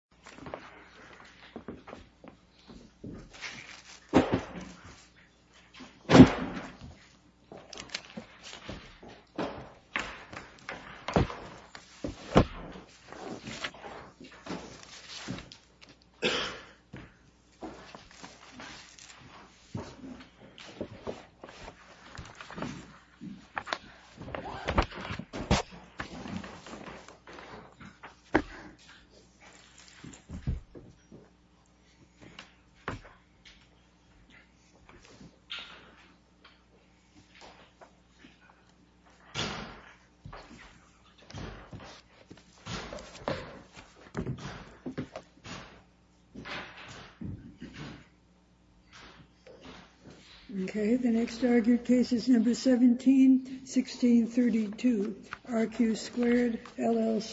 Postal Service, United States Postal Service, United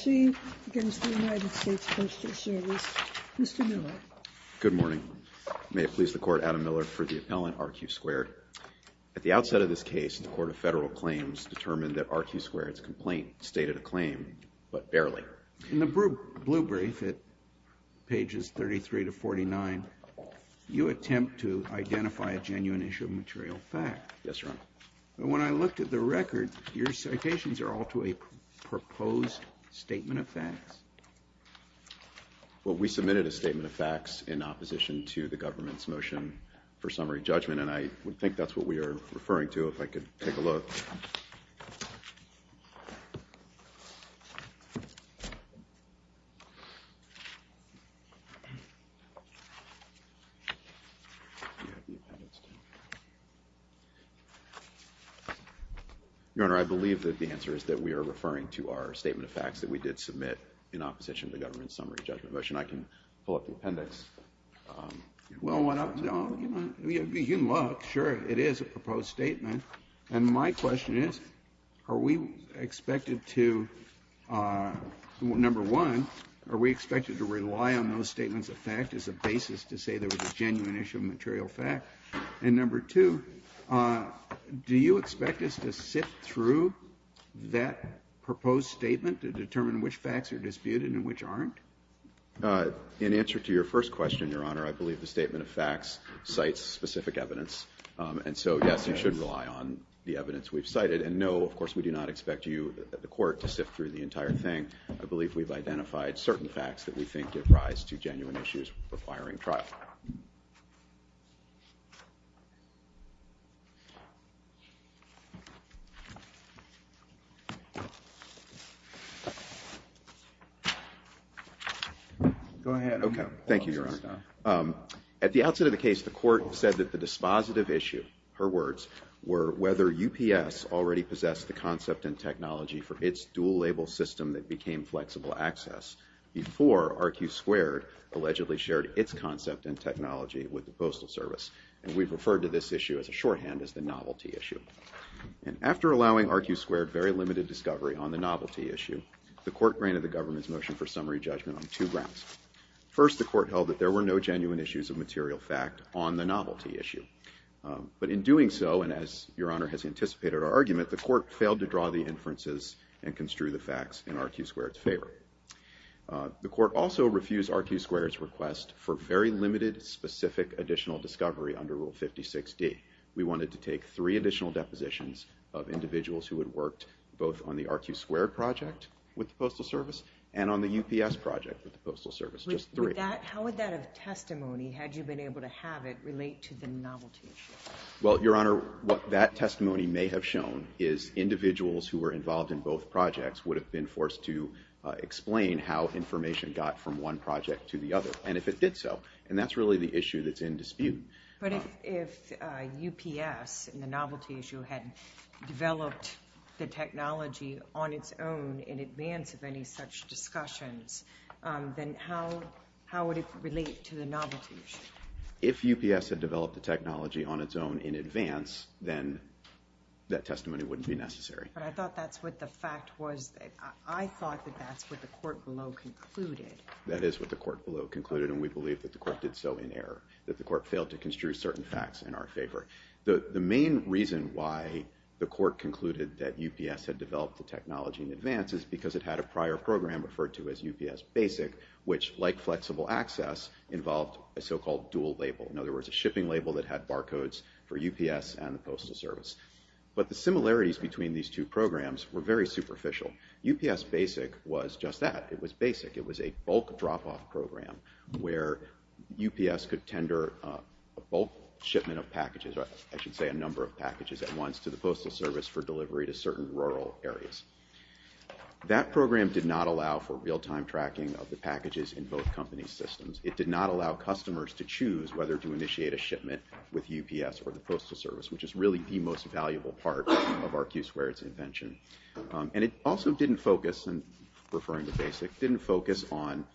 States Postal Service, United States Postal Service, Mr. Miller. Good morning. May it please the Court, Adam Miller for the appellant, RQ Squared. At the outset of this case, the Court of Federal Claims determined that RQ Squared's complaint stated a claim, but barely. In the blue brief at pages 33 to 49, you attempt to identify a genuine issue of material fact. Yes, Your Honor. When I looked at the record, your citations are all to a proposed statement of facts. Well, we submitted a statement of facts in opposition to the government's motion for summary judgment, and I would think that's what we are referring to, if I could take a look. Your Honor, I believe that the answer is that we are referring to our statement of facts that we did submit in opposition to the government's summary judgment motion. I can pull up the appendix. Well, you can look. Sure, it is a proposed statement. And my question is, are we expected to, number one, are we expected to rely on those statements of fact as a basis to say there was a genuine issue of material fact? And number two, do you expect us to sift through that proposed statement to determine which facts are disputed and which aren't? In answer to your first question, Your Honor, I believe the statement of facts cites specific evidence. And so, yes, you should rely on the evidence we've cited. And no, of course, we do not expect you, the court, to sift through the entire thing. I believe we've identified certain facts that we think give rise to genuine issues requiring trial. Go ahead. Okay. Thank you, Your Honor. At the outset of the case, the court said that the dispositive issue, her words, were whether UPS already possessed the concept and technology for its dual-label system that became flexible access before RQ2 allegedly shared its concept and technology with the Postal Service. And we've referred to this issue as a shorthand, as the novelty issue. And after allowing RQ2 very limited discovery on the novelty issue, the court granted the government's motion for summary judgment on two grounds. First, the court held that there were no genuine issues of material fact on the novelty issue. But in doing so, and as Your Honor has anticipated our argument, the court failed to draw the inferences and construe the facts in RQ2's favor. The court also refused RQ2's request for very limited specific additional discovery under Rule 56D. We wanted to take three additional depositions of individuals who had worked both on the Postal Service. Just three. With that, how would that testimony, had you been able to have it, relate to the novelty issue? Well, Your Honor, what that testimony may have shown is individuals who were involved in both projects would have been forced to explain how information got from one project to the other. And if it did so. And that's really the issue that's in dispute. But if UPS, in the novelty issue, had developed the technology on its own in advance of any of such discussions, then how would it relate to the novelty issue? If UPS had developed the technology on its own in advance, then that testimony wouldn't be necessary. But I thought that's what the fact was. I thought that that's what the court below concluded. That is what the court below concluded, and we believe that the court did so in error. That the court failed to construe certain facts in our favor. The main reason why the court concluded that UPS had developed the technology in advance is because it had a prior program referred to as UPS Basic, which, like flexible access, involved a so-called dual label. In other words, a shipping label that had barcodes for UPS and the Postal Service. But the similarities between these two programs were very superficial. UPS Basic was just that. It was basic. It was a bulk drop-off program where UPS could tender a bulk shipment of packages, or I should say a number of packages at once, to the Postal Service for delivery to certain rural areas. That program did not allow for real-time tracking of the packages in both companies' systems. It did not allow customers to choose whether to initiate a shipment with UPS or the Postal Service, which is really the most valuable part of our Q-Squared's invention. And it also didn't focus, and referring to Basic, didn't focus on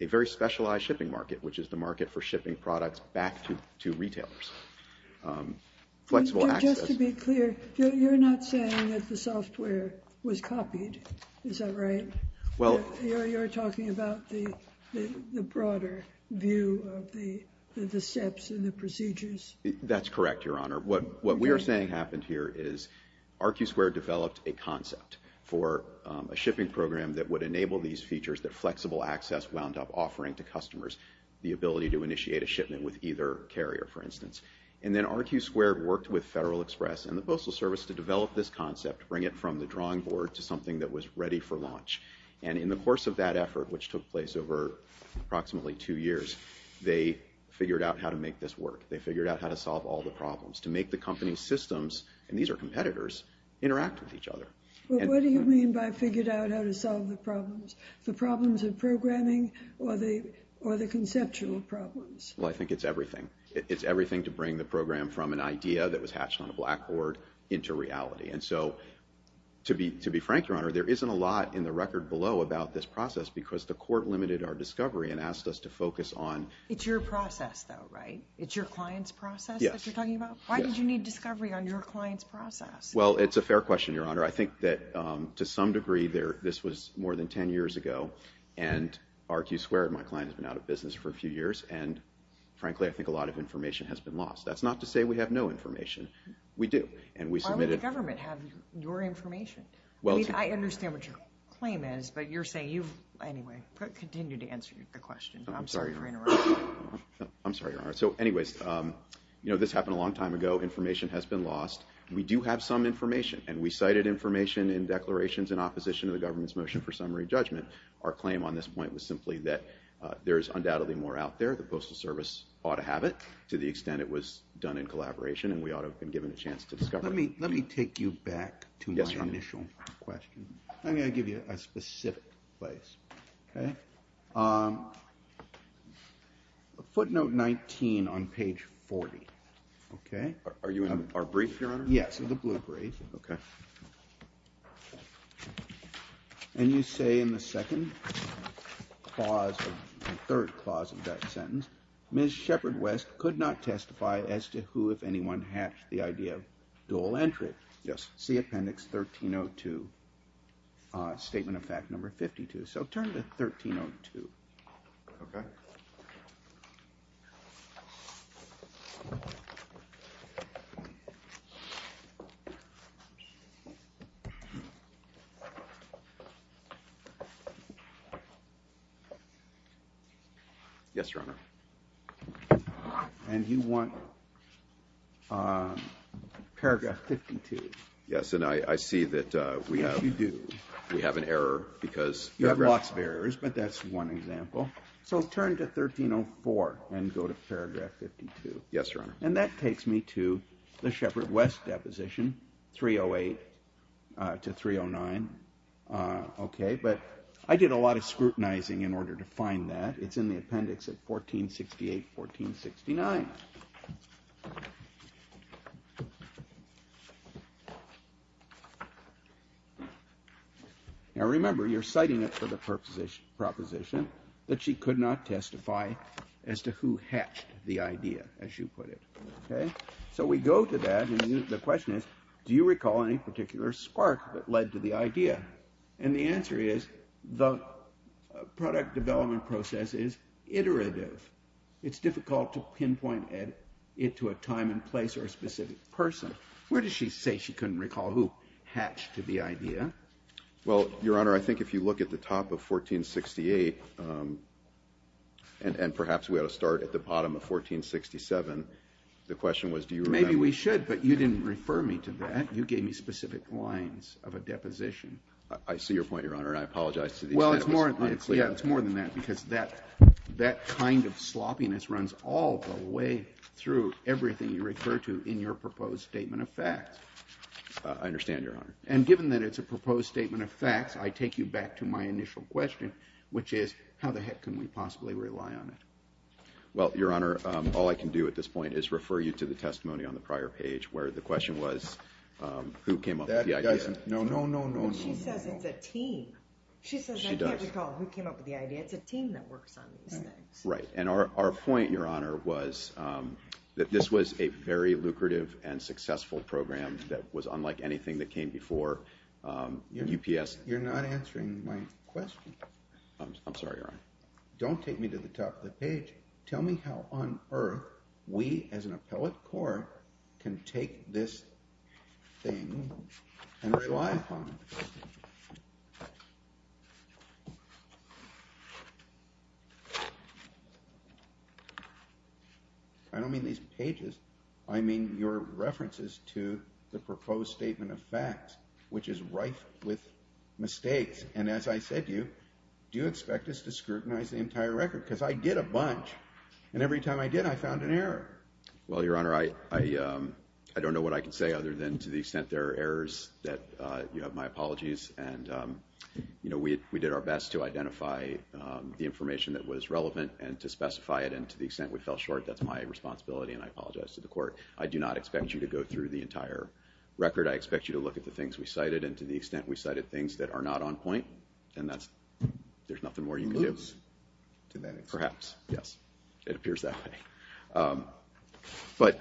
a very specialized shipping market, which is the market for shipping products back to retailers. Flexible access— Just to be clear, you're not saying that the software was copied. Is that right? Well— You're talking about the broader view of the steps and the procedures. That's correct, Your Honor. What we are saying happened here is our Q-Squared developed a concept for a shipping program that would enable these features that flexible access wound up offering to customers, the Postal Service, and then our Q-Squared worked with Federal Express and the Postal Service to develop this concept, bring it from the drawing board to something that was ready for launch. And in the course of that effort, which took place over approximately two years, they figured out how to make this work. They figured out how to solve all the problems, to make the company's systems—and these are competitors—interact with each other. Well, what do you mean by figured out how to solve the problems? The problems of programming or the conceptual problems? Well, I think it's everything. It's everything to bring the program from an idea that was hatched on a blackboard into reality. And so, to be frank, Your Honor, there isn't a lot in the record below about this process because the court limited our discovery and asked us to focus on— It's your process, though, right? It's your client's process that you're talking about? Yes. Why did you need discovery on your client's process? Well, it's a fair question, Your Honor. I think that to some degree, this was more than ten years ago, and our Q-Squared, my That's not to say we have no information. We do, and we submitted— Why would the government have your information? I mean, I understand what your claim is, but you're saying you've—anyway, continue to answer the question. I'm sorry for interrupting. I'm sorry, Your Honor. So, anyways, this happened a long time ago. Information has been lost. We do have some information, and we cited information in declarations in opposition to the government's motion for summary judgment. Our claim on this point was simply that there is undoubtedly more out there. The Postal Service ought to have it, to the extent it was done in collaboration, and we ought to have been given a chance to discover it. Let me take you back to my initial question. Yes, Your Honor. I'm going to give you a specific place, okay? Footnote 19 on page 40, okay? Are you in our brief, Your Honor? Yes, the blue brief. Okay. And you say in the second clause, the third clause of that sentence, Ms. Shepard West could not testify as to who, if anyone, hatched the idea of dual entry. Yes. See appendix 1302, statement of fact number 52. So turn to 1302. Okay. Yes, Your Honor. And you want paragraph 52. Yes, and I see that we have an error because paragraph 52. You have lots of errors, but that's one example. So turn to 1304 and go to paragraph 52. Yes, Your Honor. And that takes me to the Shepard West deposition, 308 to 309, okay? But I did a lot of scrutinizing in order to find that. It's in the appendix at 1468, 1469. Now, remember, you're citing it for the proposition that she could not testify as to who hatched the idea, as you put it, okay? So we go to that, and the question is, do you recall any particular spark that led to the idea? And the answer is, the product development process is iterative. It's difficult to pinpoint it to a time and place or a specific person. Where does she say she couldn't recall who hatched the idea? Well, Your Honor, I think if you look at the top of 1468, and perhaps we ought to start at the bottom of 1467, the question was do you remember? Maybe we should, but you didn't refer me to that. You gave me specific lines of a deposition. I see your point, Your Honor, and I apologize to the extent it was unclear. Yeah, it's more than that, because that kind of sloppiness runs all the way through everything you refer to in your proposed statement of facts. I understand, Your Honor. And given that it's a proposed statement of facts, I take you back to my initial question, which is how the heck can we possibly rely on it? Well, Your Honor, all I can do at this point is refer you to the testimony on the prior page where the question was who came up with the idea. That doesn't – no, no, no, no, no, no. But she says it's a team. She does. I don't recall who came up with the idea. It's a team that works on these things. Right, and our point, Your Honor, was that this was a very lucrative and successful program that was unlike anything that came before UPS. You're not answering my question. I'm sorry, Your Honor. Don't take me to the top of the page. Tell me how on earth we as an appellate court can take this thing and rely upon it. I don't mean these pages. I mean your references to the proposed statement of facts, which is rife with mistakes. And as I said to you, do you expect us to scrutinize the entire record? Because I did a bunch. And every time I did, I found an error. Well, Your Honor, I don't know what I can say other than to the extent there are errors that you have my apologies. And, you know, we did our best to identify the information that was relevant and to specify it. And to the extent we fell short, that's my responsibility, and I apologize to the court. I do not expect you to go through the entire record. I expect you to look at the things we cited, and to the extent we cited things that are not on point, then there's nothing more you can do. Perhaps, yes. It appears that way. But,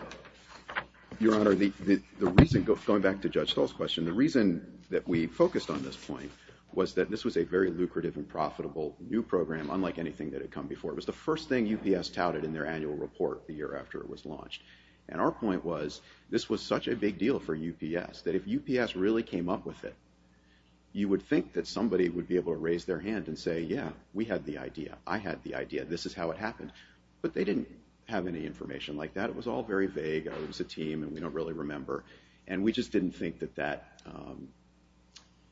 Your Honor, the reason, going back to Judge Stoll's question, the reason that we focused on this point was that this was a very lucrative and profitable new program, unlike anything that had come before. It was the first thing UPS touted in their annual report the year after it was launched. And our point was, this was such a big deal for UPS, that if UPS really came up with it, you would think that somebody would be able to raise their hand and say, yeah, we had the idea, I had the idea, this is how it happened. But they didn't have any information like that. It was all very vague. It was a team, and we don't really remember. And we just didn't think that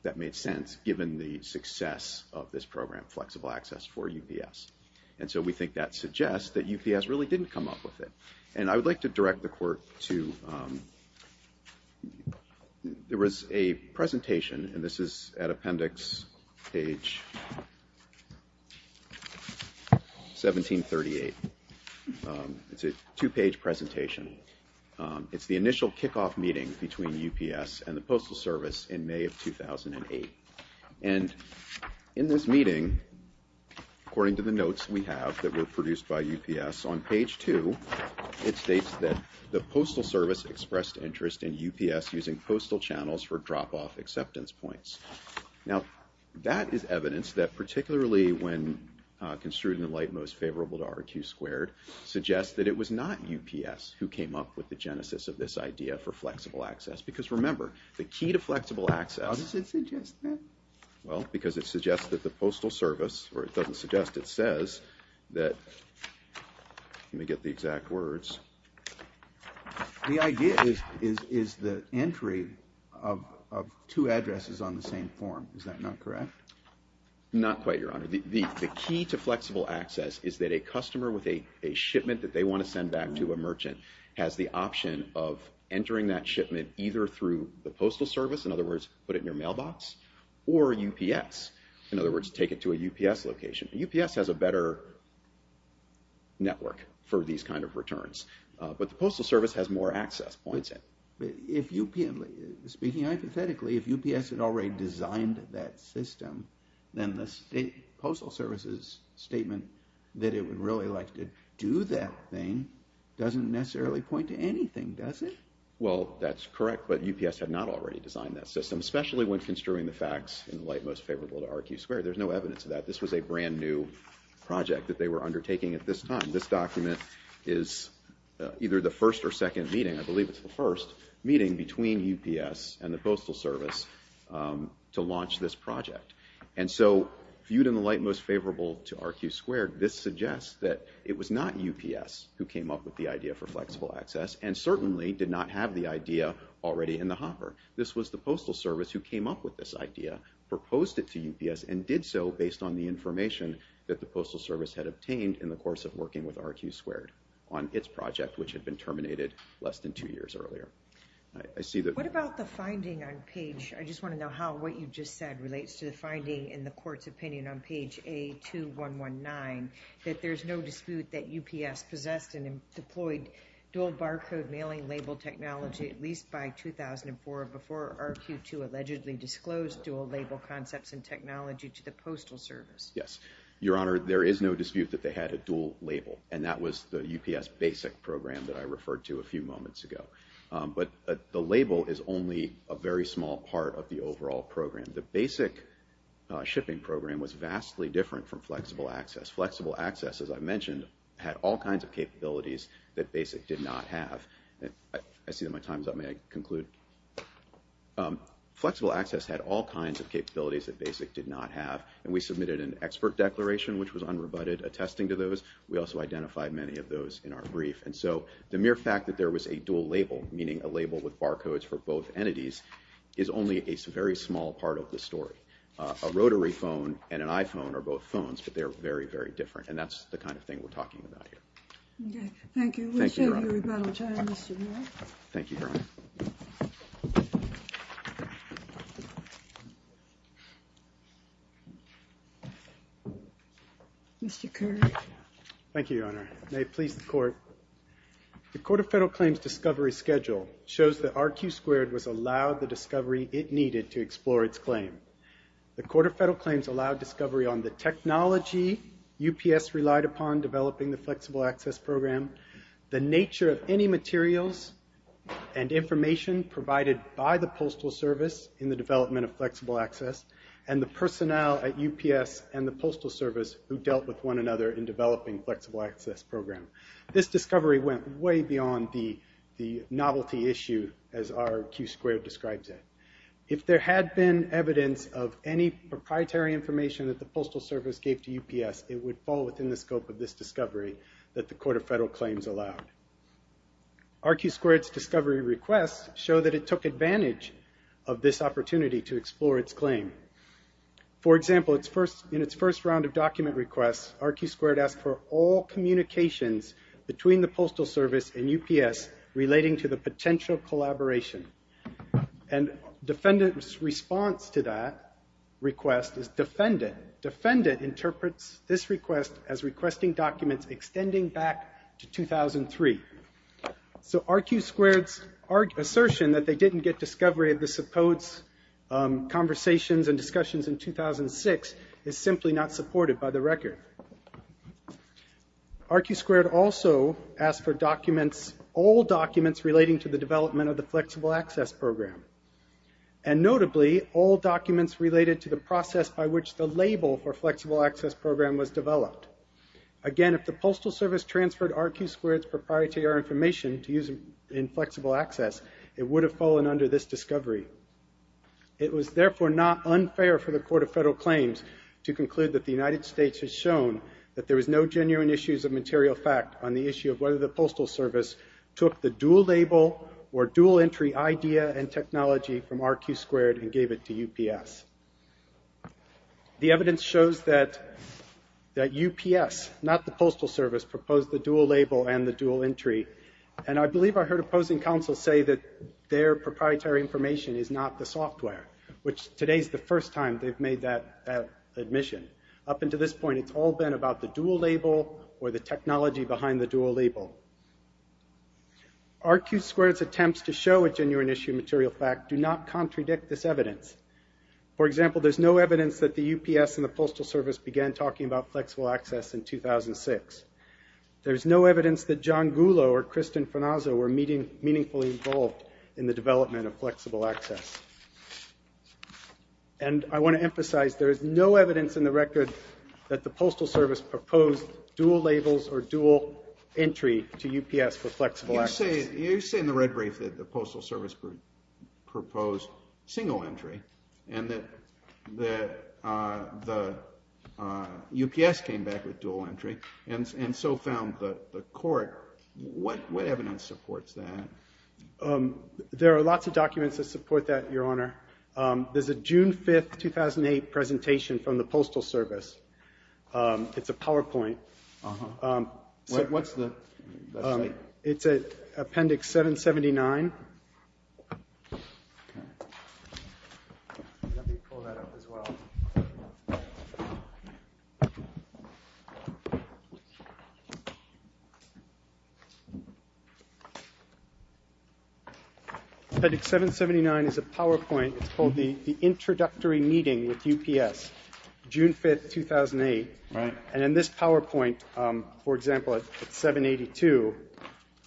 that made sense, given the success of this program, Flexible Access, for UPS. And so we think that suggests that UPS really didn't come up with it. And I would like to direct the Court to, there was a presentation, and this is at appendix page 1738. It's a two-page presentation. It's the initial kickoff meeting between UPS and the Postal Service in May of 2008. And in this meeting, according to the notes we have that were produced by UPS, on page two it states that the Postal Service expressed interest in UPS using postal channels for drop-off acceptance points. Now, that is evidence that particularly when construed in the light most favorable to RQ squared, suggests that it was not UPS who came up with the genesis of this idea for Flexible Access. Because remember, the key to Flexible Access. How does it suggest that? Well, because it suggests that the Postal Service, or it doesn't suggest, it says that, let me get the exact words. The idea is the entry of two addresses on the same form. Is that not correct? Not quite, Your Honor. The key to Flexible Access is that a customer with a shipment that they want to send back to a merchant has the option of entering that shipment either through the Postal Service, in other words, put it in your mailbox, or UPS, in other words, take it to a UPS location. UPS has a better network for these kind of returns. But the Postal Service has more access points. Speaking hypothetically, if UPS had already designed that system, then the Postal Service's statement that it would really like to do that thing doesn't necessarily point to anything, does it? Well, that's correct, but UPS had not already designed that system, especially when construing the facts in the light most favorable to RQ squared. There's no evidence of that. This was a brand new project that they were undertaking at this time. This document is either the first or second meeting. I believe it's the first meeting between UPS and the Postal Service to launch this project. And so viewed in the light most favorable to RQ squared, this suggests that it was not UPS who came up with the idea for Flexible Access and certainly did not have the idea already in the hopper. This was the Postal Service who came up with this idea, proposed it to UPS, and did so based on the information that the Postal Service had obtained in the course of working with RQ squared on its project, which had been terminated less than two years earlier. What about the finding on page, I just want to know how what you just said relates to the finding in the court's opinion on page A2119, that there's no dispute that UPS possessed and deployed dual barcode mailing label technology at least by 2004 before RQ2 allegedly disclosed dual label concepts and technology to the Postal Service? Yes, Your Honor, there is no dispute that they had a dual label, and that was the UPS BASIC program that I referred to a few moments ago. But the label is only a very small part of the overall program. The BASIC shipping program was vastly different from Flexible Access. Flexible Access, as I mentioned, had all kinds of capabilities that BASIC did not have. I see that my time is up, may I conclude? Flexible Access had all kinds of capabilities that BASIC did not have, and we submitted an expert declaration, which was unrebutted, attesting to those. We also identified many of those in our brief. And so the mere fact that there was a dual label, meaning a label with barcodes for both entities, is only a very small part of the story. A rotary phone and an iPhone are both phones, but they're very, very different, and that's the kind of thing we're talking about here. Okay, thank you. Thank you, Your Honor. We'll show you rebuttal time, Mr. Moore. Thank you, Your Honor. Mr. Kerr. Thank you, Your Honor. May it please the Court. The Court of Federal Claims discovery schedule shows that RQ2 was allowed the discovery it needed to explore its claim. The Court of Federal Claims allowed discovery on the technology UPS relied upon developing the Flexible Access program, the nature of any materials and information provided by the Postal Service in the development of Flexible Access, and the personnel at UPS and the Postal Service who dealt with one another in developing Flexible Access program. This discovery went way beyond the novelty issue as RQ2 describes it. If there had been evidence of any proprietary information that the Postal Service gave to UPS, it would fall within the scope of this discovery that the Court of Federal Claims allowed. RQ2's discovery requests show that it took advantage of this opportunity to explore its claim. For example, in its first round of document requests, RQ2 asked for all communications between the Postal Service and UPS relating to the potential collaboration, and defendant's response to that request is defendant. Defendant interprets this request as requesting documents extending back to 2003. So RQ2's assertion that they didn't get discovery of the supposed conversations and discussions in 2006 is simply not supported by the record. RQ2 also asked for all documents relating to the development of the Flexible Access program, and notably, all documents related to the process by which the label for Flexible Access program was developed. Again, if the Postal Service transferred RQ2's proprietary information to use in Flexible Access, it would have fallen under this discovery. It was therefore not unfair for the Court of Federal Claims to conclude that the United States has shown that there was no genuine issues of material fact on the issue of whether the Postal Service took the dual-label or dual-entry idea and technology from RQ2 and gave it to UPS. The evidence shows that UPS, not the Postal Service, proposed the dual-label and the dual-entry, and I believe I heard opposing counsel say that their proprietary information is not the software, which today's the first time they've made that admission. Up until this point, it's all been about the dual-label or the technology behind the dual-label. RQ2's attempts to show a genuine issue of material fact do not contradict this evidence. For example, there's no evidence that the UPS and the Postal Service began talking about Flexible Access in 2006. There's no evidence that John Gullo or Kristen Farnaso were meaningfully involved in the development of Flexible Access. And I want to emphasize there is no evidence in the record that the Postal Service proposed dual-labels or dual-entry to UPS for Flexible Access. You say in the red brief that the Postal Service proposed single-entry and that the UPS came back with dual-entry and so found the court. What evidence supports that? There are lots of documents that support that, Your Honor. There's a June 5, 2008 presentation from the Postal Service. It's a PowerPoint. What's the site? It's at Appendix 779. Okay. Let me pull that up as well. Appendix 779 is a PowerPoint. It's called the Introductory Meeting with UPS, June 5, 2008. Right. And in this PowerPoint, for example, at 782,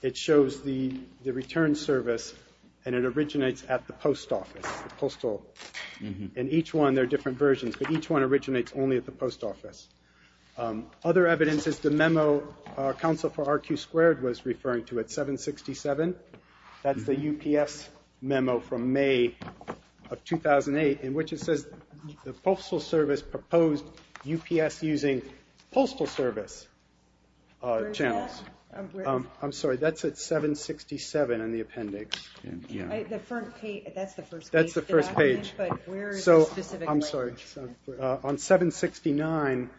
it shows the return service and it originates at the Post Office, the Postal. And each one, there are different versions, but each one originates only at the Post Office. Other evidence is the memo counsel for RQ2 was referring to at 767. That's the UPS memo from May of 2008 in which it says the Postal Service proposed UPS using postal service channels. Where is that? I'm sorry. That's at 767 in the appendix. That's the first page. That's the first page. But where is it specifically? I'm sorry. On 769,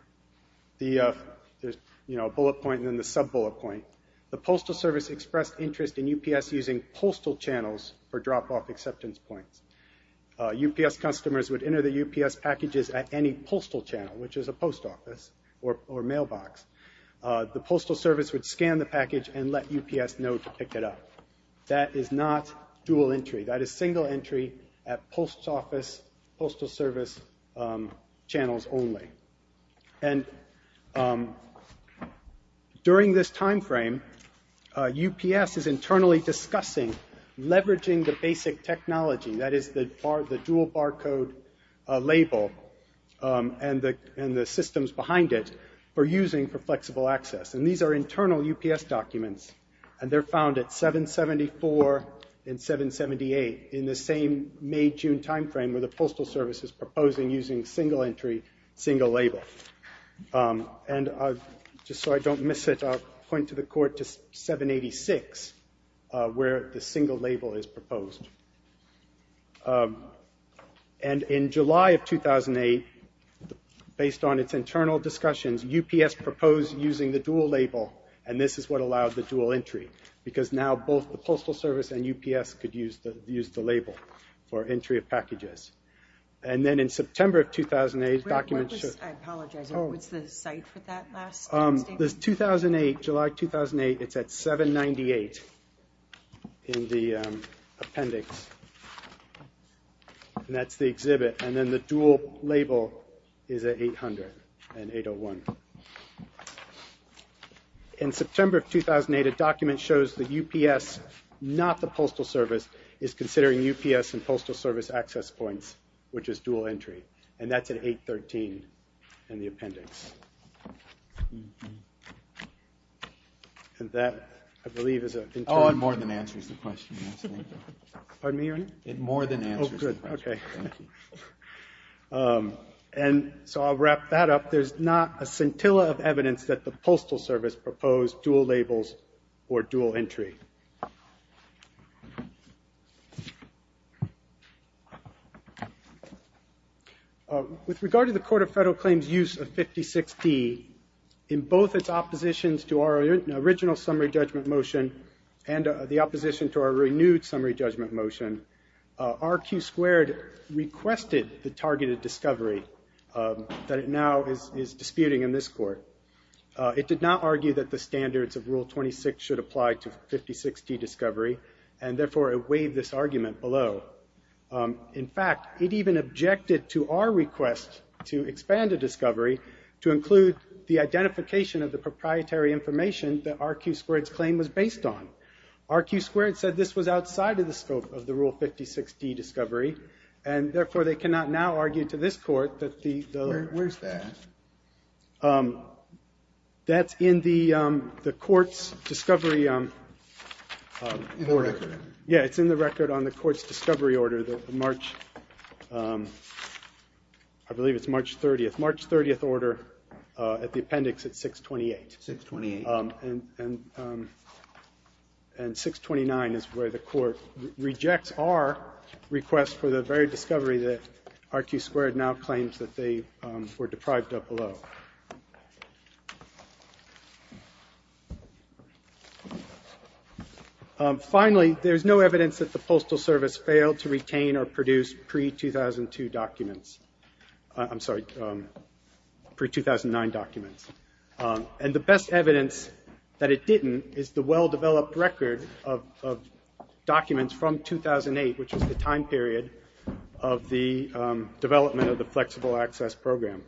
there's a bullet point and then the sub-bullet point. The Postal Service expressed interest in UPS using postal channels for drop-off acceptance points. UPS customers would enter their UPS packages at any postal channel, which is a post office or mailbox. The Postal Service would scan the package and let UPS know to pick it up. That is not dual entry. That is single entry at Post Office, Postal Service channels only. And during this time frame, UPS is internally discussing leveraging the basic technology. That is the dual barcode label and the systems behind it for using for flexible access. And these are internal UPS documents, and they're found at 774 and 778 in the same May-June time frame where the Postal Service is proposing using single entry, single label. And just so I don't miss it, I'll point to the court to 786 where the single label is proposed. And in July of 2008, based on its internal discussions, UPS proposed using the dual label, and this is what allowed the dual entry. Because now both the Postal Service and UPS could use the label for entry of packages. And then in September of 2008, documents should... I apologize, what's the site for that last statement? This 2008, July 2008, it's at 798 in the appendix. And that's the exhibit. And then the dual label is at 800 and 801. In September of 2008, a document shows that UPS, not the Postal Service, is considering UPS and Postal Service access points, which is dual entry. And that's at 813 in the appendix. And that, I believe, is a... Oh, it more than answers the question. Pardon me, your name? It more than answers the question. Oh, good, okay. And so I'll wrap that up. There's not a scintilla of evidence that the Postal Service proposed dual labels or dual entry. With regard to the Court of Federal Claims' use of 56D, in both its oppositions to our original summary judgment motion and the opposition to our renewed summary judgment motion, RQ2 requested the targeted discovery that it now is disputing in this court. It did not argue that the standards of Rule 26 should apply to 56D discovery, and therefore it weighed this argument below. In fact, it even objected to our request to expand a discovery to include the identification of the proprietary information that RQ2's claim was based on. So RQ2 said this was outside of the scope of the Rule 56D discovery, and therefore they cannot now argue to this court that the... Where's that? That's in the court's discovery order. In the record. Yeah, it's in the record on the court's discovery order that March... I believe it's March 30th. March 30th order at the appendix at 628. 628. And 629 is where the court rejects our request for the very discovery that RQ2 now claims that they were deprived of below. Finally, there's no evidence that the Postal Service failed to retain or produce pre-2002 documents. I'm sorry, pre-2009 documents. And the best evidence that it didn't is the well-developed record of documents from 2008, which was the time period of the development of the Flexible Access Program.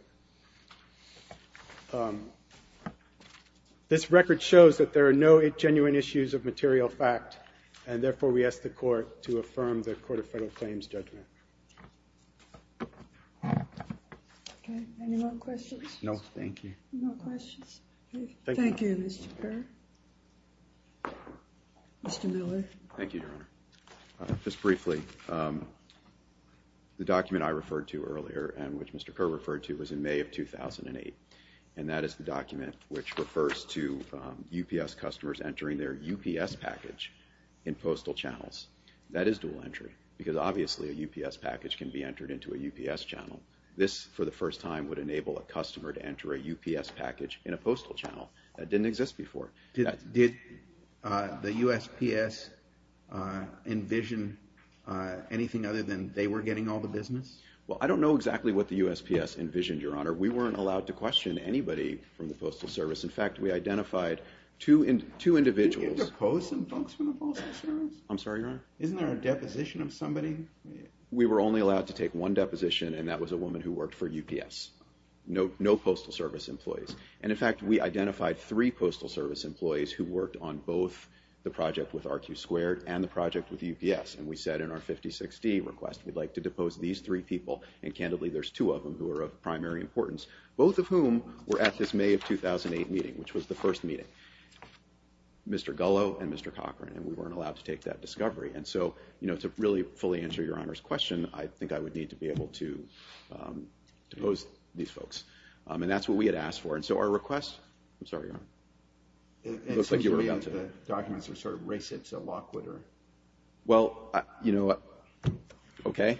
This record shows that there are no genuine issues of material fact, and therefore we ask the court to affirm the Court of Federal Claims judgment. Any more questions? No, thank you. No questions? Thank you, Mr. Kerr. Mr. Miller. Thank you, Your Honor. Just briefly, the document I referred to earlier and which Mr. Kerr referred to was in May of 2008, and that is the document which refers to UPS customers entering their UPS package in postal channels. That is dual entry because obviously a UPS package can be entered into a UPS channel. This, for the first time, would enable a customer to enter a UPS package in a postal channel. That didn't exist before. Did the USPS envision anything other than they were getting all the business? Well, I don't know exactly what the USPS envisioned, Your Honor. We weren't allowed to question anybody from the Postal Service. In fact, we identified two individuals. Didn't you depose some folks from the Postal Service? I'm sorry, Your Honor? Isn't there a deposition of somebody? We were only allowed to take one deposition, and that was a woman who worked for UPS. No Postal Service employees. And, in fact, we identified three Postal Service employees who worked on both the project with RQ2 and the project with UPS, and we said in our 56D request we'd like to depose these three people, and candidly there's two of them who are of primary importance, both of whom were at this May of 2008 meeting, which was the first meeting, Mr. Gullo and Mr. Cochran, and we weren't allowed to take that discovery. And so, you know, to really fully answer Your Honor's question, I think I would need to be able to depose these folks. And that's what we had asked for. And so our request – I'm sorry, Your Honor? It seems to me that the documents were sort of race-interlocked with her. Well, you know what? Okay.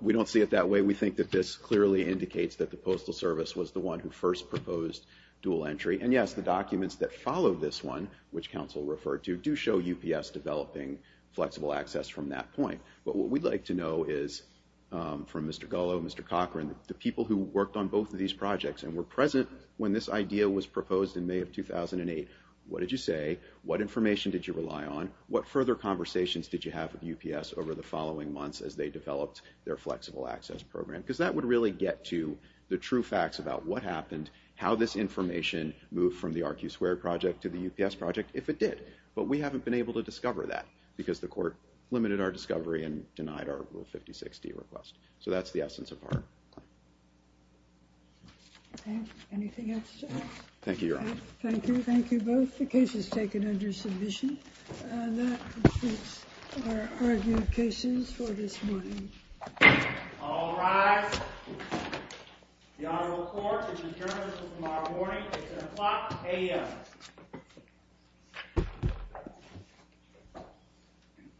We don't see it that way. We think that this clearly indicates that the Postal Service was the one who first proposed dual entry. And yes, the documents that follow this one, which counsel referred to, do show UPS developing flexible access from that point. But what we'd like to know is from Mr. Gullo and Mr. Cochran, the people who worked on both of these projects and were present when this idea was proposed in May of 2008, what did you say? What information did you rely on? What further conversations did you have with UPS over the following months as they developed their flexible access program? Because that would really get to the true facts about what happened, how this information moved from the RQ2 project to the UPS project, if it did. But we haven't been able to discover that because the court limited our discovery and denied our Rule 56D request. So that's the essence of our claim. Okay. Anything else? Thank you, Your Honor. Thank you. Thank you both. The case is taken under submission. And that concludes our argument cases for this morning. All rise. The honorable court is adjourned until tomorrow morning at 10 o'clock a.m.